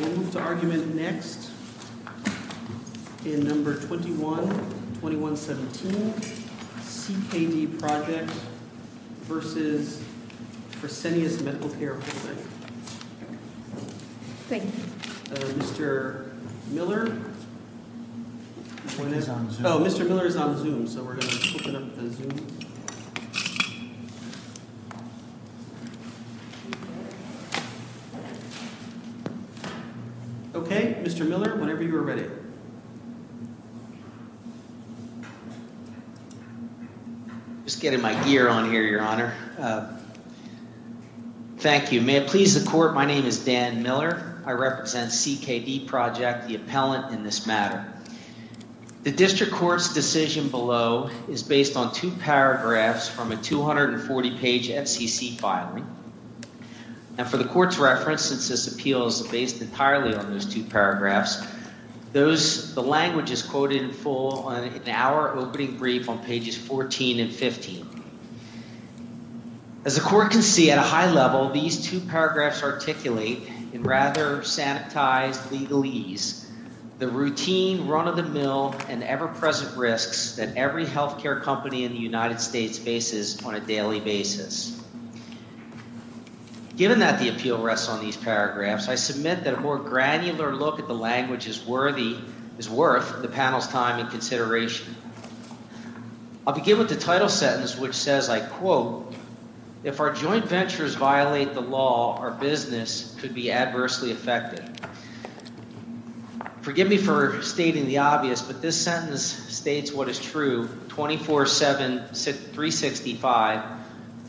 We'll move to argument next in No. 21-2117, CKD Project v. Fresenius Medical Care Holdings. Thank you. Mr. Miller is on Zoom, so we're going to open up the Zoom. Okay, Mr. Miller, whenever you are ready. Just getting my gear on here, Your Honor. Thank you. May it please the Court, my name is Dan Miller. I represent CKD Project, the appellant in this matter. The District Court's decision below is based on two paragraphs from a 240-page FCC filing. And for the Court's reference, since this appeal is based entirely on those two paragraphs, the language is quoted in full in our opening brief on pages 14 and 15. As the Court can see at a high level, these two paragraphs articulate in rather sanitized legalese the routine run-of-the-mill and ever-present risks that every health care company in the United States faces on a daily basis. Given that the appeal rests on these paragraphs, I submit that a more granular look at the language is worth the panel's time and consideration. I'll begin with the title sentence, which says, I quote, If our joint ventures violate the law, our business could be adversely affected. Forgive me for stating the obvious, but this sentence states what is true 24-7, 365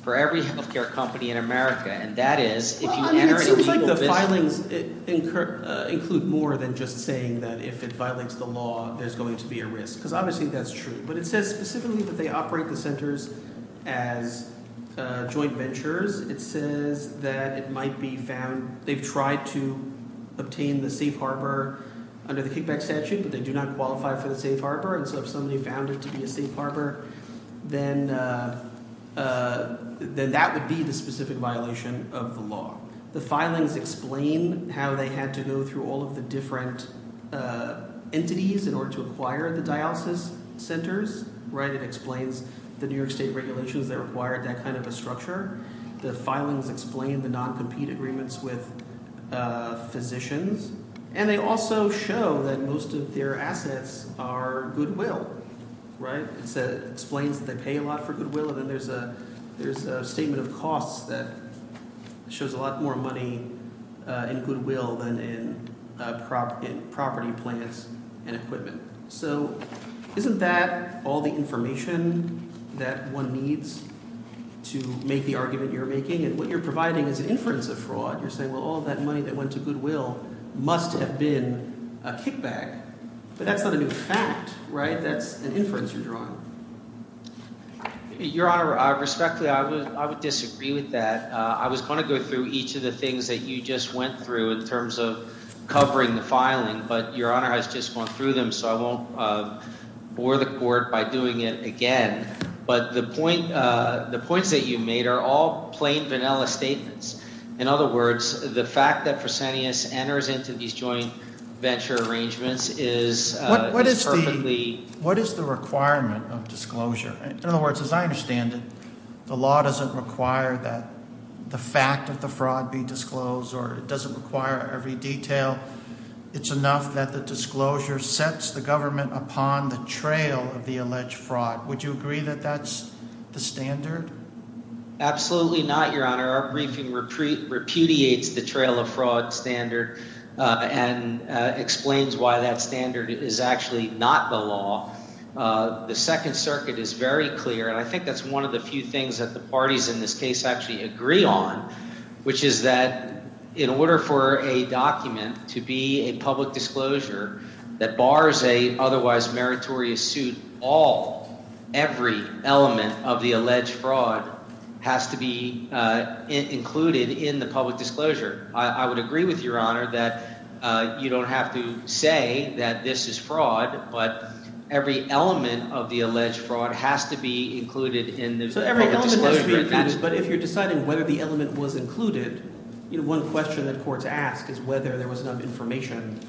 for every health care company in America. And that is, if you enter into legal business It seems like the filings include more than just saying that if it violates the law, there's going to be a risk. Because obviously that's true. But it says specifically that they operate the centers as joint ventures. It says that it might be found – they've tried to obtain the safe harbor under the kickback statute, but they do not qualify for the safe harbor. And so if somebody found it to be a safe harbor, then that would be the specific violation of the law. The filings explain how they had to go through all of the different entities in order to acquire the dialysis centers. It explains the New York state regulations that required that kind of a structure. The filings explain the non-compete agreements with physicians. And they also show that most of their assets are goodwill. It explains that they pay a lot for goodwill, and then there's a statement of costs that shows a lot more money in goodwill than in property, plants, and equipment. So isn't that all the information that one needs to make the argument you're making? And what you're providing is an inference of fraud. You're saying, well, all of that money that went to goodwill must have been a kickback. But that's not a new fact, right? That's an inference you're drawing. Your Honor, respectfully, I would disagree with that. I was going to go through each of the things that you just went through in terms of covering the filing, but Your Honor, I was just going through them, so I won't bore the court by doing it again. But the points that you made are all plain, vanilla statements. In other words, the fact that Fresenius enters into these joint venture arrangements is perfectly— What is the requirement of disclosure? In other words, as I understand it, the law doesn't require that the fact of the fraud be disclosed or it doesn't require every detail. It's enough that the disclosure sets the government upon the trail of the alleged fraud. Would you agree that that's the standard? Absolutely not, Your Honor. Our briefing repudiates the trail of fraud standard and explains why that standard is actually not the law. The Second Circuit is very clear, and I think that's one of the few things that the parties in this case actually agree on, which is that in order for a document to be a public disclosure that bars an otherwise meritorious suit, every element of the alleged fraud has to be included in the public disclosure. I would agree with Your Honor that you don't have to say that this is fraud, but every element of the alleged fraud has to be included in the public disclosure. But if you're deciding whether the element was included, one question that courts ask is whether there was enough information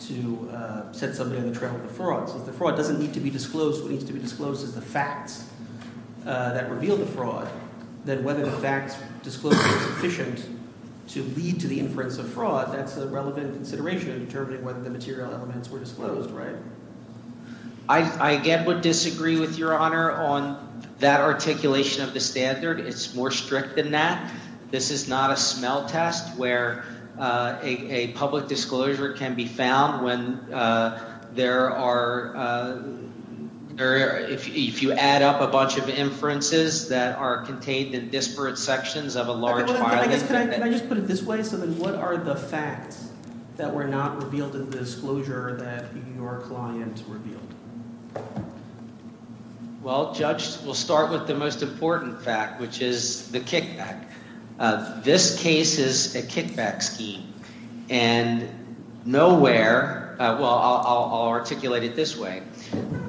to set somebody on the trail of the fraud. Since the fraud doesn't need to be disclosed, what needs to be disclosed is the facts that reveal the fraud. Then whether the facts disclosed were sufficient to lead to the inference of fraud, that's a relevant consideration in determining whether the material elements were disclosed, right? I again would disagree with Your Honor on that articulation of the standard. It's more strict than that. This is not a smell test where a public disclosure can be found when there are – if you add up a bunch of inferences that are contained in disparate sections of a large file. Can I just put it this way? So then what are the facts that were not revealed in the disclosure that your client revealed? Well, Judge, we'll start with the most important fact, which is the kickback. This case is a kickback scheme. And nowhere – well, I'll articulate it this way.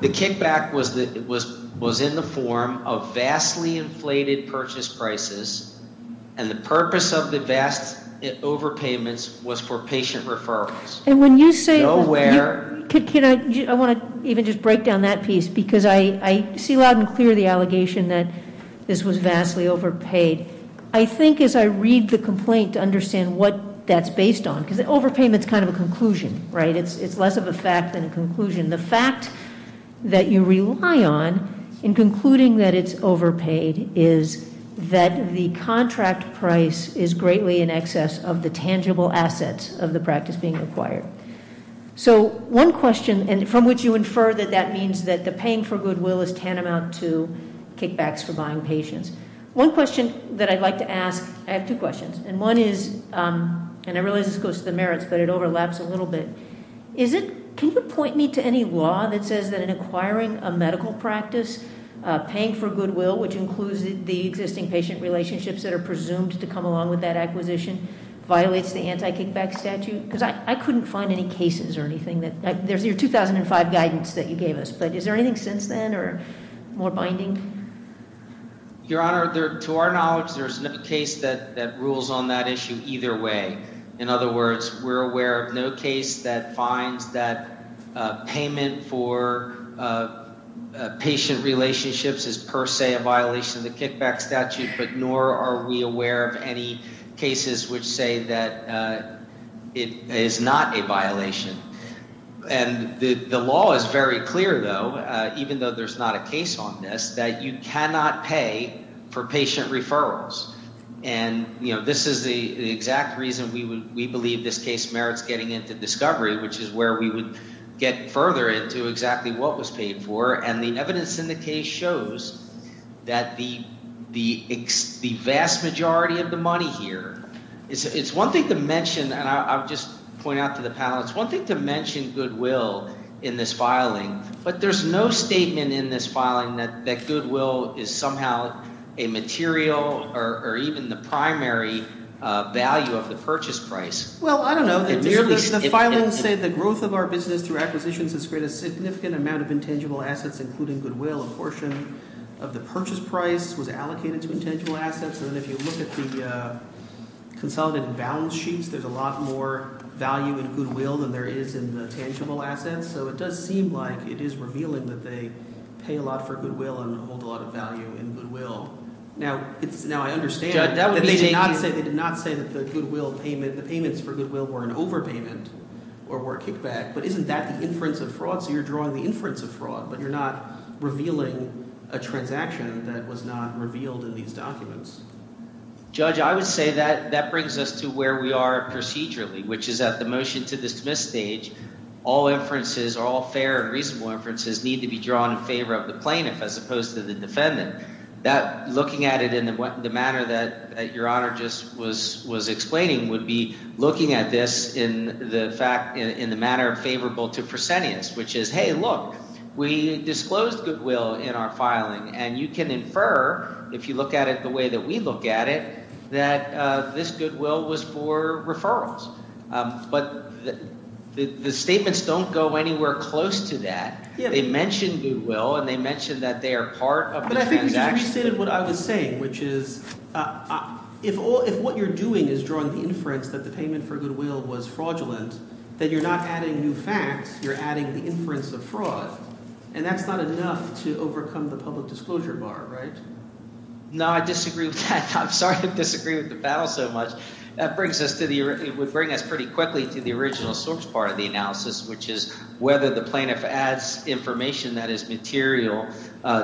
The kickback was in the form of vastly inflated purchase prices, and the purpose of the vast overpayments was for patient referrals. And when you say – Nowhere – Can I – I want to even just break down that piece, because I see loud and clear the allegation that this was vastly overpaid. I think as I read the complaint to understand what that's based on, because overpayment's kind of a conclusion, right? It's less of a fact than a conclusion. The fact that you rely on in concluding that it's overpaid is that the contract price is greatly in excess of the tangible assets of the practice being acquired. So one question – and from which you infer that that means that the paying for goodwill is tantamount to kickbacks for buying patients. One question that I'd like to ask – I have two questions. And one is – and I realize this goes to the merits, but it overlaps a little bit. Is it – can you point me to any law that says that in acquiring a medical practice, paying for goodwill, which includes the existing patient relationships that are presumed to come along with that acquisition, violates the anti-kickback statute? Because I couldn't find any cases or anything that – there's your 2005 guidance that you gave us. But is there anything since then or more binding? Your Honor, to our knowledge, there's no case that rules on that issue either way. In other words, we're aware of no case that finds that payment for patient relationships is per se a violation of the kickback statute, but nor are we aware of any cases which say that it is not a violation. And the law is very clear, though, even though there's not a case on this, that you cannot pay for patient referrals. And this is the exact reason we believe this case merits getting into discovery, which is where we would get further into exactly what was paid for. And the evidence in the case shows that the vast majority of the money here – it's one thing to mention, and I'll just point out to the panel. It's one thing to mention goodwill in this filing, but there's no statement in this filing that goodwill is somehow a material or even the primary value of the purchase price. Well, I don't know. The filing said the growth of our business through acquisitions has created a significant amount of intangible assets, including goodwill. A portion of the purchase price was allocated to intangible assets. And if you look at the consolidated balance sheets, there's a lot more value in goodwill than there is in the tangible assets. So it does seem like it is revealing that they pay a lot for goodwill and hold a lot of value in goodwill. Now, I understand that they did not say that the goodwill payment – the payments for goodwill were an overpayment or were a kickback. But isn't that the inference of fraud? So you're drawing the inference of fraud, but you're not revealing a transaction that was not revealed in these documents. Judge, I would say that that brings us to where we are procedurally, which is at the motion-to-dismiss stage. All inferences, all fair and reasonable inferences need to be drawn in favor of the plaintiff as opposed to the defendant. That – looking at it in the manner that Your Honor just was explaining would be looking at this in the fact – in the manner favorable to proscenius, which is, hey, look. We disclosed goodwill in our filing, and you can infer if you look at it the way that we look at it that this goodwill was for referrals. But the statements don't go anywhere close to that. They mention goodwill, and they mention that they are part of the transaction. But I think you just restated what I was saying, which is if all – if what you're doing is drawing the inference that the payment for goodwill was fraudulent, then you're not adding new facts. You're adding the inference of fraud, and that's not enough to overcome the public disclosure bar, right? No, I disagree with that. I'm sorry I disagree with the battle so much. That brings us to the – it would bring us pretty quickly to the original source part of the analysis, which is whether the plaintiff adds information that is material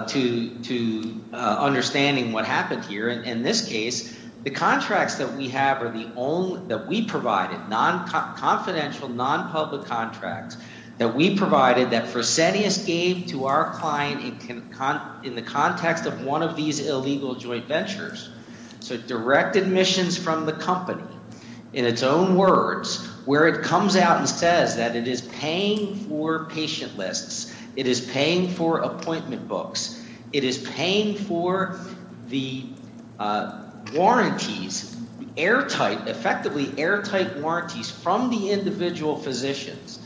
to understanding what happened here. In this case, the contracts that we have are the only – that we provided, confidential, nonpublic contracts that we provided that proscenius gave to our client in the context of one of these illegal joint ventures. So direct admissions from the company in its own words where it comes out and says that it is paying for patient lists. It is paying for appointment books. It is paying for the warranties, airtight – effectively airtight warranties from the individual physicians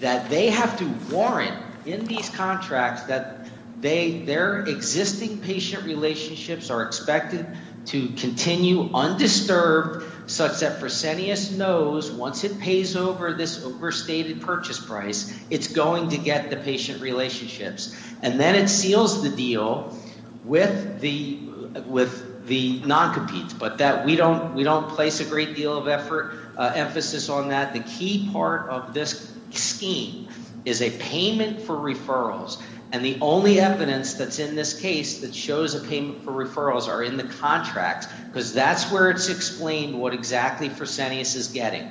that they have to warrant in these contracts that they – their existing patient relationships are expected to continue undisturbed such that proscenius knows once it pays over this overstated purchase price, it's going to get the patient relationships. And then it seals the deal with the noncompetes, but that – we don't place a great deal of effort – emphasis on that. The key part of this scheme is a payment for referrals, and the only evidence that's in this case that shows a payment for referrals are in the contracts because that's where it's explained what exactly proscenius is getting.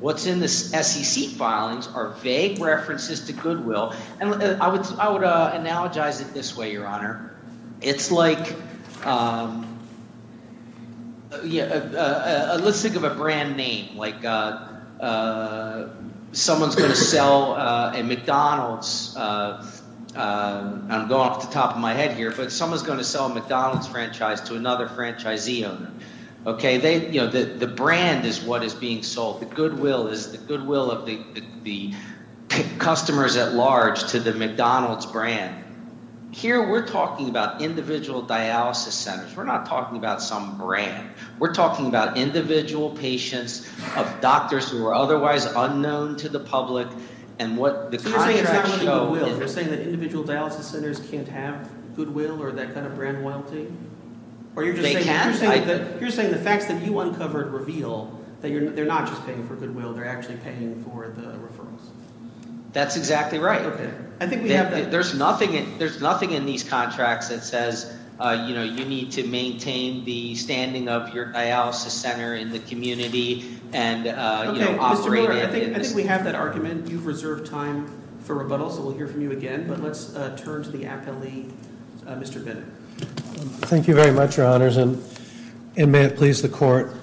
What's in the SEC filings are vague references to Goodwill, and I would analogize it this way, Your Honor. It's like – let's think of a brand name, like someone is going to sell a McDonald's – I'm going off the top of my head here, but someone is going to sell a McDonald's franchise to another franchisee owner. The brand is what is being sold. The Goodwill is the Goodwill of the customers at large to the McDonald's brand. Here we're talking about individual dialysis centers. We're not talking about some brand. We're talking about individual patients of doctors who are otherwise unknown to the public and what the contracts show is – So you're saying it's not really Goodwill. You're saying that individual dialysis centers can't have Goodwill or that kind of brand loyalty? They can. You're saying the facts that you uncovered reveal that they're not just paying for Goodwill. They're actually paying for the referrals. That's exactly right. Okay. I think we have that. There's nothing in these contracts that says you need to maintain the standing of your dialysis center in the community and operate it. I think we have that argument. You've reserved time for rebuttal, so we'll hear from you again, but let's turn to the appellee, Mr. Bennett. Thank you very much, Your Honors, and may it please the court.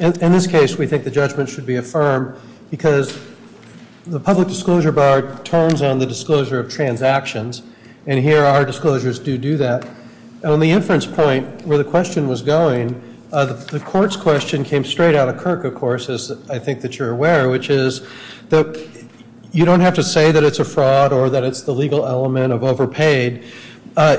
In this case, we think the judgment should be affirmed because the public disclosure bar turns on the disclosure of transactions, and here our disclosures do do that. On the inference point where the question was going, the court's question came straight out of Kirk, of course, as I think that you're aware, which is that you don't have to say that it's a fraud or that it's the legal element of overpaid.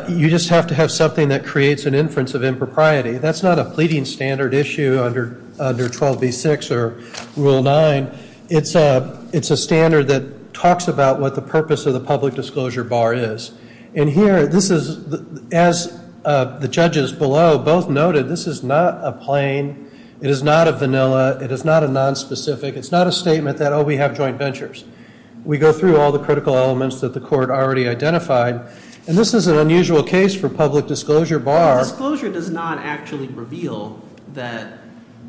You just have to have something that creates an inference of impropriety. That's not a pleading standard issue under 12b-6 or Rule 9. It's a standard that talks about what the purpose of the public disclosure bar is, and here this is, as the judges below both noted, this is not a plain, it is not a vanilla, it is not a nonspecific, it's not a statement that, oh, we have joint ventures. We go through all the critical elements that the court already identified, and this is an unusual case for public disclosure bar. Disclosure does not actually reveal that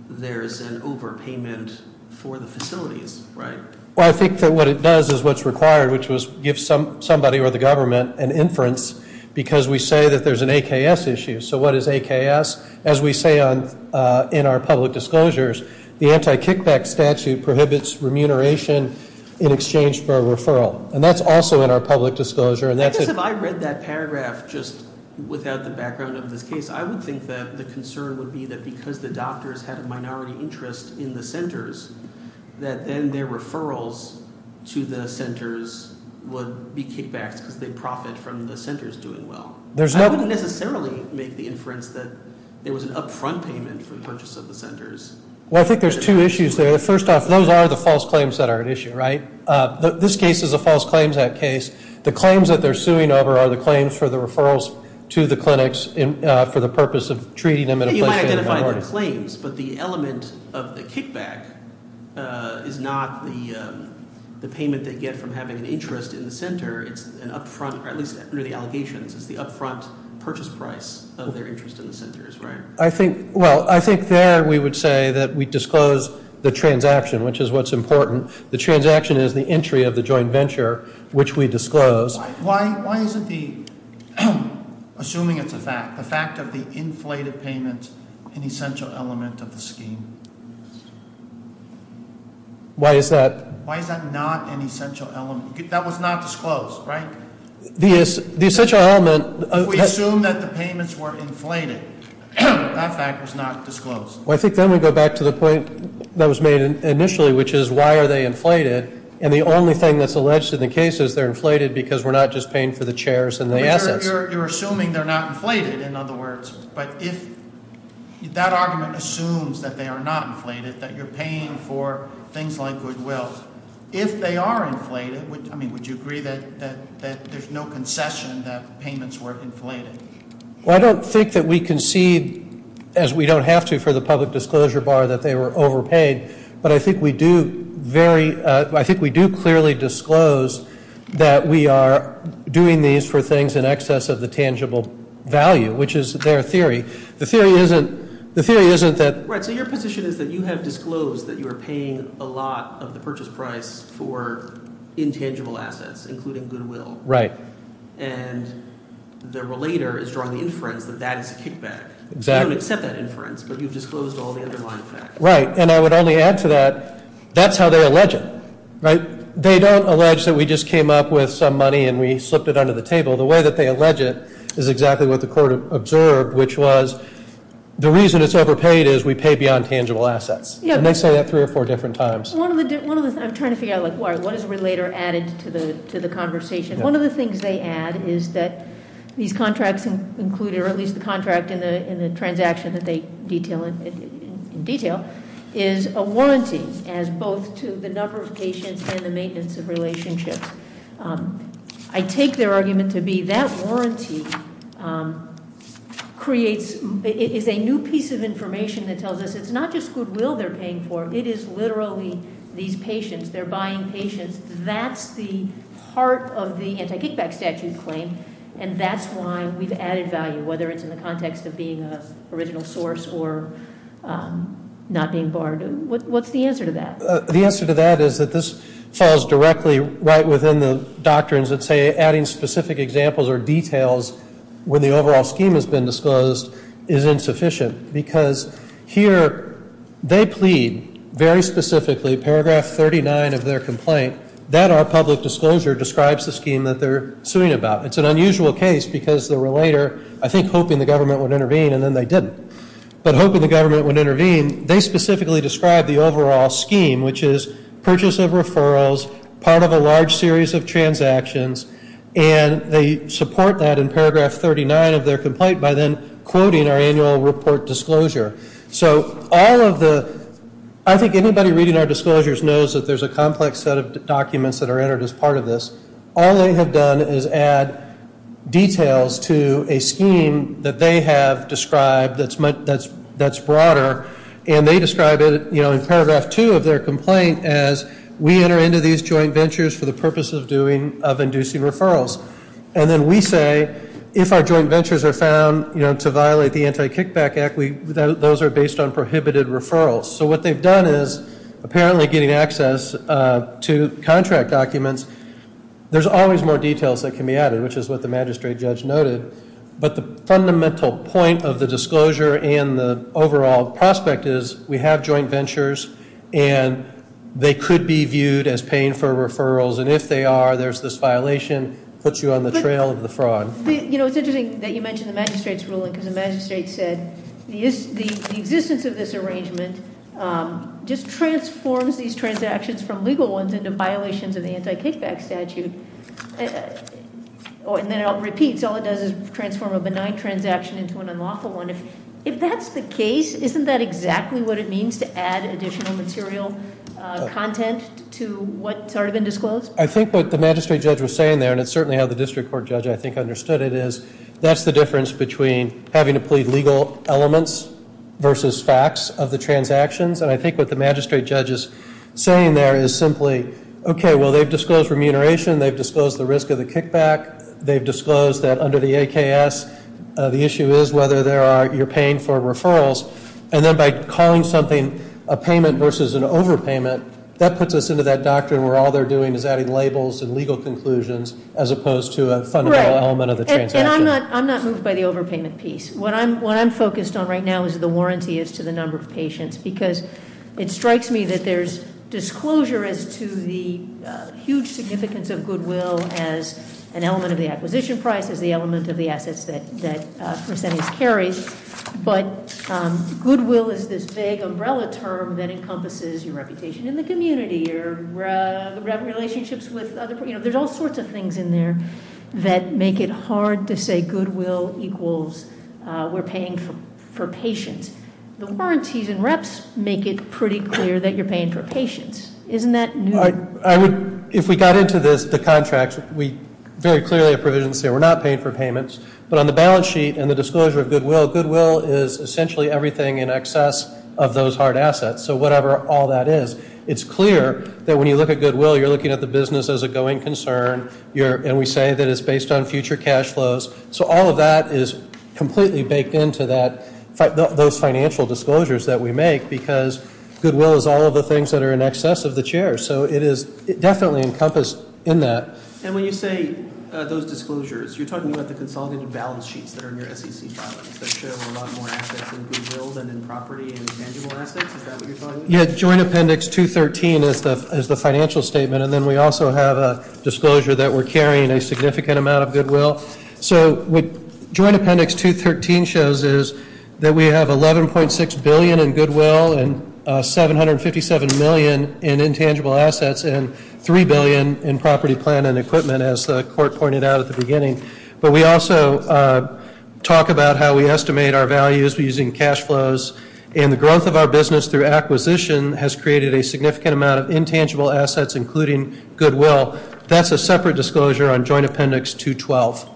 there's an overpayment for the facilities, right? Well, I think that what it does is what's required, which was give somebody or the government an inference because we say that there's an AKS issue. So what is AKS? As we say in our public disclosures, the anti-kickback statute prohibits remuneration in exchange for a referral, and that's also in our public disclosure. I guess if I read that paragraph just without the background of this case, I would think that the concern would be that because the doctors had a minority interest in the centers, that then their referrals to the centers would be kickbacks because they profit from the centers doing well. I wouldn't necessarily make the inference that there was an upfront payment for the purchase of the centers. Well, I think there's two issues there. First off, those are the false claims that are at issue, right? This case is a false claims act case. The claims that they're suing over are the claims for the referrals to the clinics for the purpose of treating them in a place of minority. You might identify the claims, but the element of the kickback is not the payment they get from having an interest in the center. It's an upfront, or at least under the allegations, it's the upfront purchase price of their interest in the centers, right? I think there we would say that we disclose the transaction, which is what's important. The transaction is the entry of the joint venture, which we disclose. Why isn't the, assuming it's a fact, the fact of the inflated payment an essential element of the scheme? Why is that? Why is that not an essential element? That was not disclosed, right? The essential element- If we assume that the payments were inflated, that fact was not disclosed. Well, I think then we go back to the point that was made initially, which is why are they inflated? And the only thing that's alleged in the case is they're inflated because we're not just paying for the chairs and the assets. You're assuming they're not inflated, in other words. But if that argument assumes that they are not inflated, that you're paying for things like goodwill. If they are inflated, I mean, would you agree that there's no concession that payments were inflated? Well, I don't think that we concede, as we don't have to for the public disclosure bar, that they were overpaid. But I think we do clearly disclose that we are doing these for things in excess of the tangible value, which is their theory. The theory isn't that- for intangible assets, including goodwill. And the relator is drawing the inference that that is a kickback. You don't accept that inference, but you've disclosed all the underlying facts. Right, and I would only add to that, that's how they allege it. They don't allege that we just came up with some money and we slipped it under the table. The way that they allege it is exactly what the court observed, which was the reason it's overpaid is we pay beyond tangible assets. And they say that three or four different times. I'm trying to figure out why. What is relator added to the conversation? One of the things they add is that these contracts included, or at least the contract in the transaction that they detail in detail, is a warranty as both to the number of patients and the maintenance of relationships. I take their argument to be that warranty is a new piece of information that tells us it's not just goodwill they're paying for, it is literally these patients, they're buying patients, that's the heart of the anti-kickback statute claim. And that's why we've added value, whether it's in the context of being an original source or not being barred. What's the answer to that? The answer to that is that this falls directly right within the doctrines that say adding specific examples or details when the overall scheme has been disclosed is insufficient. Because here they plead very specifically, paragraph 39 of their complaint, that our public disclosure describes the scheme that they're suing about. It's an unusual case because the relator, I think hoping the government would intervene, and then they didn't. But hoping the government would intervene, they specifically describe the overall scheme, which is purchase of referrals, part of a large series of transactions, and they support that in paragraph 39 of their complaint by then quoting our annual report disclosure. So all of the, I think anybody reading our disclosures knows that there's a complex set of documents that are entered as part of this. All they have done is add details to a scheme that they have described that's broader, and they describe it in paragraph 2 of their complaint as we enter into these joint ventures for the purpose of inducing referrals. And then we say if our joint ventures are found to violate the Anti-Kickback Act, those are based on prohibited referrals. So what they've done is apparently getting access to contract documents. There's always more details that can be added, which is what the magistrate judge noted. But the fundamental point of the disclosure and the overall prospect is we have joint ventures, and they could be viewed as paying for referrals. And if they are, there's this violation that puts you on the trail of the fraud. You know, it's interesting that you mentioned the magistrate's ruling because the magistrate said the existence of this arrangement just transforms these transactions from legal ones into violations of the Anti-Kickback Statute. And then it all repeats. All it does is transform a benign transaction into an unlawful one. If that's the case, isn't that exactly what it means to add additional material content to what's already been disclosed? I think what the magistrate judge was saying there, and it's certainly how the district court judge, I think, understood it, is that's the difference between having to plead legal elements versus facts of the transactions. And I think what the magistrate judge is saying there is simply, okay, well, they've disclosed remuneration. They've disclosed the risk of the kickback. They've disclosed that under the AKS, the issue is whether you're paying for referrals. And then by calling something a payment versus an overpayment, that puts us into that doctrine where all they're doing is adding labels and legal conclusions as opposed to a fundamental element of the transaction. Right. And I'm not moved by the overpayment piece. What I'm focused on right now is the warranty as to the number of patients. Because it strikes me that there's disclosure as to the huge significance of goodwill as an element of the acquisition price, as the element of the assets that percentage carries. But goodwill is this big umbrella term that encompasses your reputation in the community or relationships with other people. There's all sorts of things in there that make it hard to say goodwill equals we're paying for patients. The warranties and reps make it pretty clear that you're paying for patients. Isn't that new? If we got into this, the contracts, we very clearly have provisions saying we're not paying for payments. But on the balance sheet and the disclosure of goodwill, goodwill is essentially everything in excess of those hard assets. So whatever all that is, it's clear that when you look at goodwill, you're looking at the business as a going concern. And we say that it's based on future cash flows. So all of that is completely baked into that, those financial disclosures that we make, because goodwill is all of the things that are in excess of the chair. So it is definitely encompassed in that. And when you say those disclosures, you're talking about the consolidated balance sheets that are in your SEC filings that show a lot more assets in goodwill than in property and intangible assets. Is that what you're talking about? Yeah, Joint Appendix 213 is the financial statement. And then we also have a disclosure that we're carrying a significant amount of goodwill. So Joint Appendix 213 shows us that we have $11.6 billion in goodwill and $757 million in intangible assets and $3 billion in property, plan and equipment, as the court pointed out at the beginning. But we also talk about how we estimate our values using cash flows. And the growth of our business through acquisition has created a significant amount of intangible assets, including goodwill. That's a separate disclosure on Joint Appendix 212.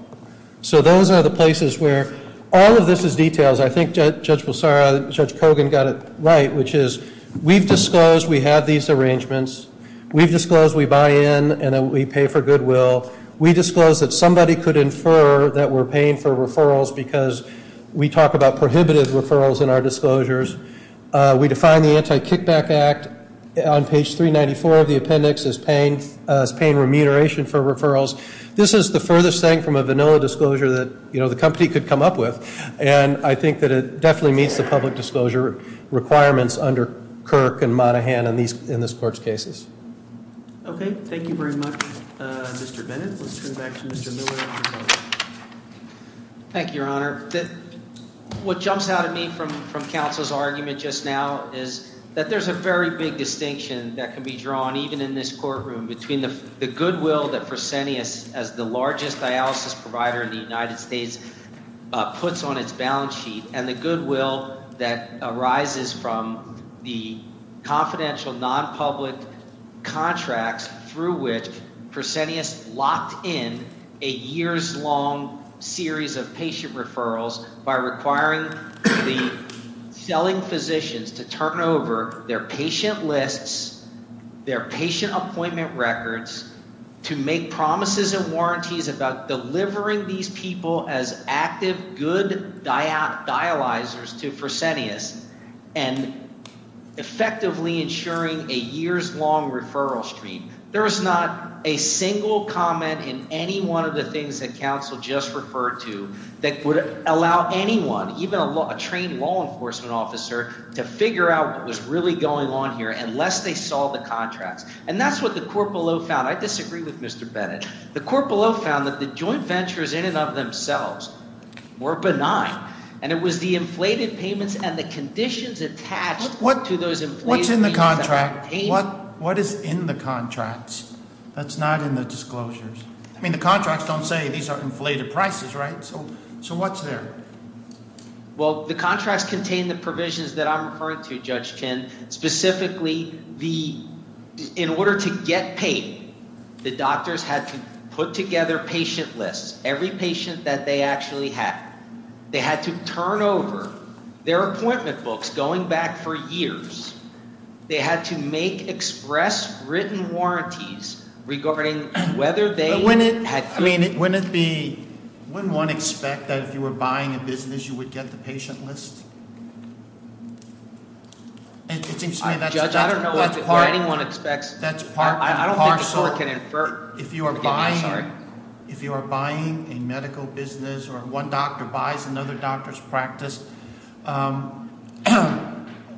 So those are the places where all of this is detailed. I think Judge Pulsara, Judge Kogan got it right, which is we've disclosed we have these arrangements. We've disclosed we buy in and we pay for goodwill. We disclosed that somebody could infer that we're paying for referrals because we talk about prohibitive referrals in our disclosures. We define the Anti-Kickback Act on page 394 of the appendix as paying remuneration for referrals. This is the furthest thing from a vanilla disclosure that, you know, the company could come up with. And I think that it definitely meets the public disclosure requirements under Kirk and Monahan in this court's cases. Okay. Thank you very much, Mr. Bennett. Let's turn it back to Mr. Miller. Thank you, Your Honor. What jumps out at me from counsel's argument just now is that there's a very big distinction that can be drawn even in this courtroom between the goodwill that Fresenius, as the largest dialysis provider in the United States, puts on its balance sheet and the goodwill that arises from the confidential nonpublic contracts through which Fresenius locked in a years-long series of patient referrals by requiring the selling physicians to turn over their patient lists, their patient appointment records, to make promises and warranties about delivering these people as active, good dialyzers to Fresenius and effectively ensuring a years-long referral stream. There is not a single comment in any one of the things that counsel just referred to that would allow anyone, even a trained law enforcement officer, to figure out what was really going on here unless they saw the contracts. And that's what the court below found. I disagree with Mr. Bennett. The court below found that the joint ventures in and of themselves were benign, and it was the inflated payments and the conditions attached to those inflated payments. What's in the contract? What is in the contracts that's not in the disclosures? I mean the contracts don't say these are inflated prices, right? So what's there? Well, the contracts contain the provisions that I'm referring to, Judge Kinn, and specifically in order to get paid, the doctors had to put together patient lists, every patient that they actually had. They had to turn over their appointment books going back for years. They had to make express written warranties regarding whether they had- I mean wouldn't one expect that if you were buying a business you would get the patient list? It seems to me that's part- Judge, I don't know what anyone expects. That's part and parcel. I don't think the court can infer. If you are buying a medical business or one doctor buys another doctor's practice,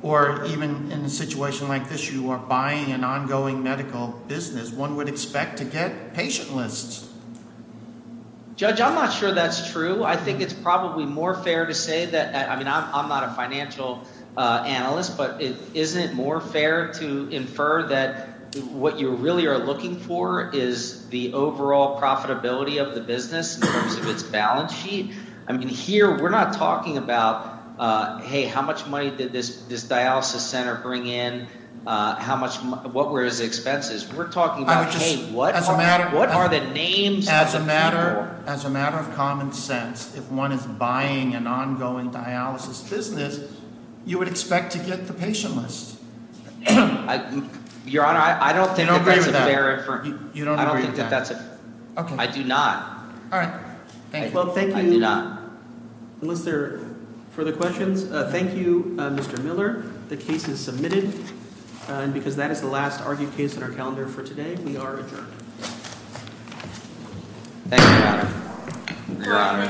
or even in a situation like this you are buying an ongoing medical business, one would expect to get patient lists. Judge, I'm not sure that's true. I think it's probably more fair to say that – I mean I'm not a financial analyst, but isn't it more fair to infer that what you really are looking for is the overall profitability of the business in terms of its balance sheet? I mean here we're not talking about, hey, how much money did this dialysis center bring in? What were its expenses? We're talking about, hey, what are the names of the people? As a matter of common sense, if one is buying an ongoing dialysis business, you would expect to get the patient list. Your Honor, I don't think that that's a fair- You don't agree with that? I don't think that that's a- Okay. I do not. All right. Well, thank you. I do not. Unless there are further questions. Thank you, Mr. Miller. The case is submitted. And because that is the last argued case in our calendar for today, we are adjourned. Thank you, Your Honor. Thank you, Your Honor. Thank you, Your Honor. Thank you, Your Honor.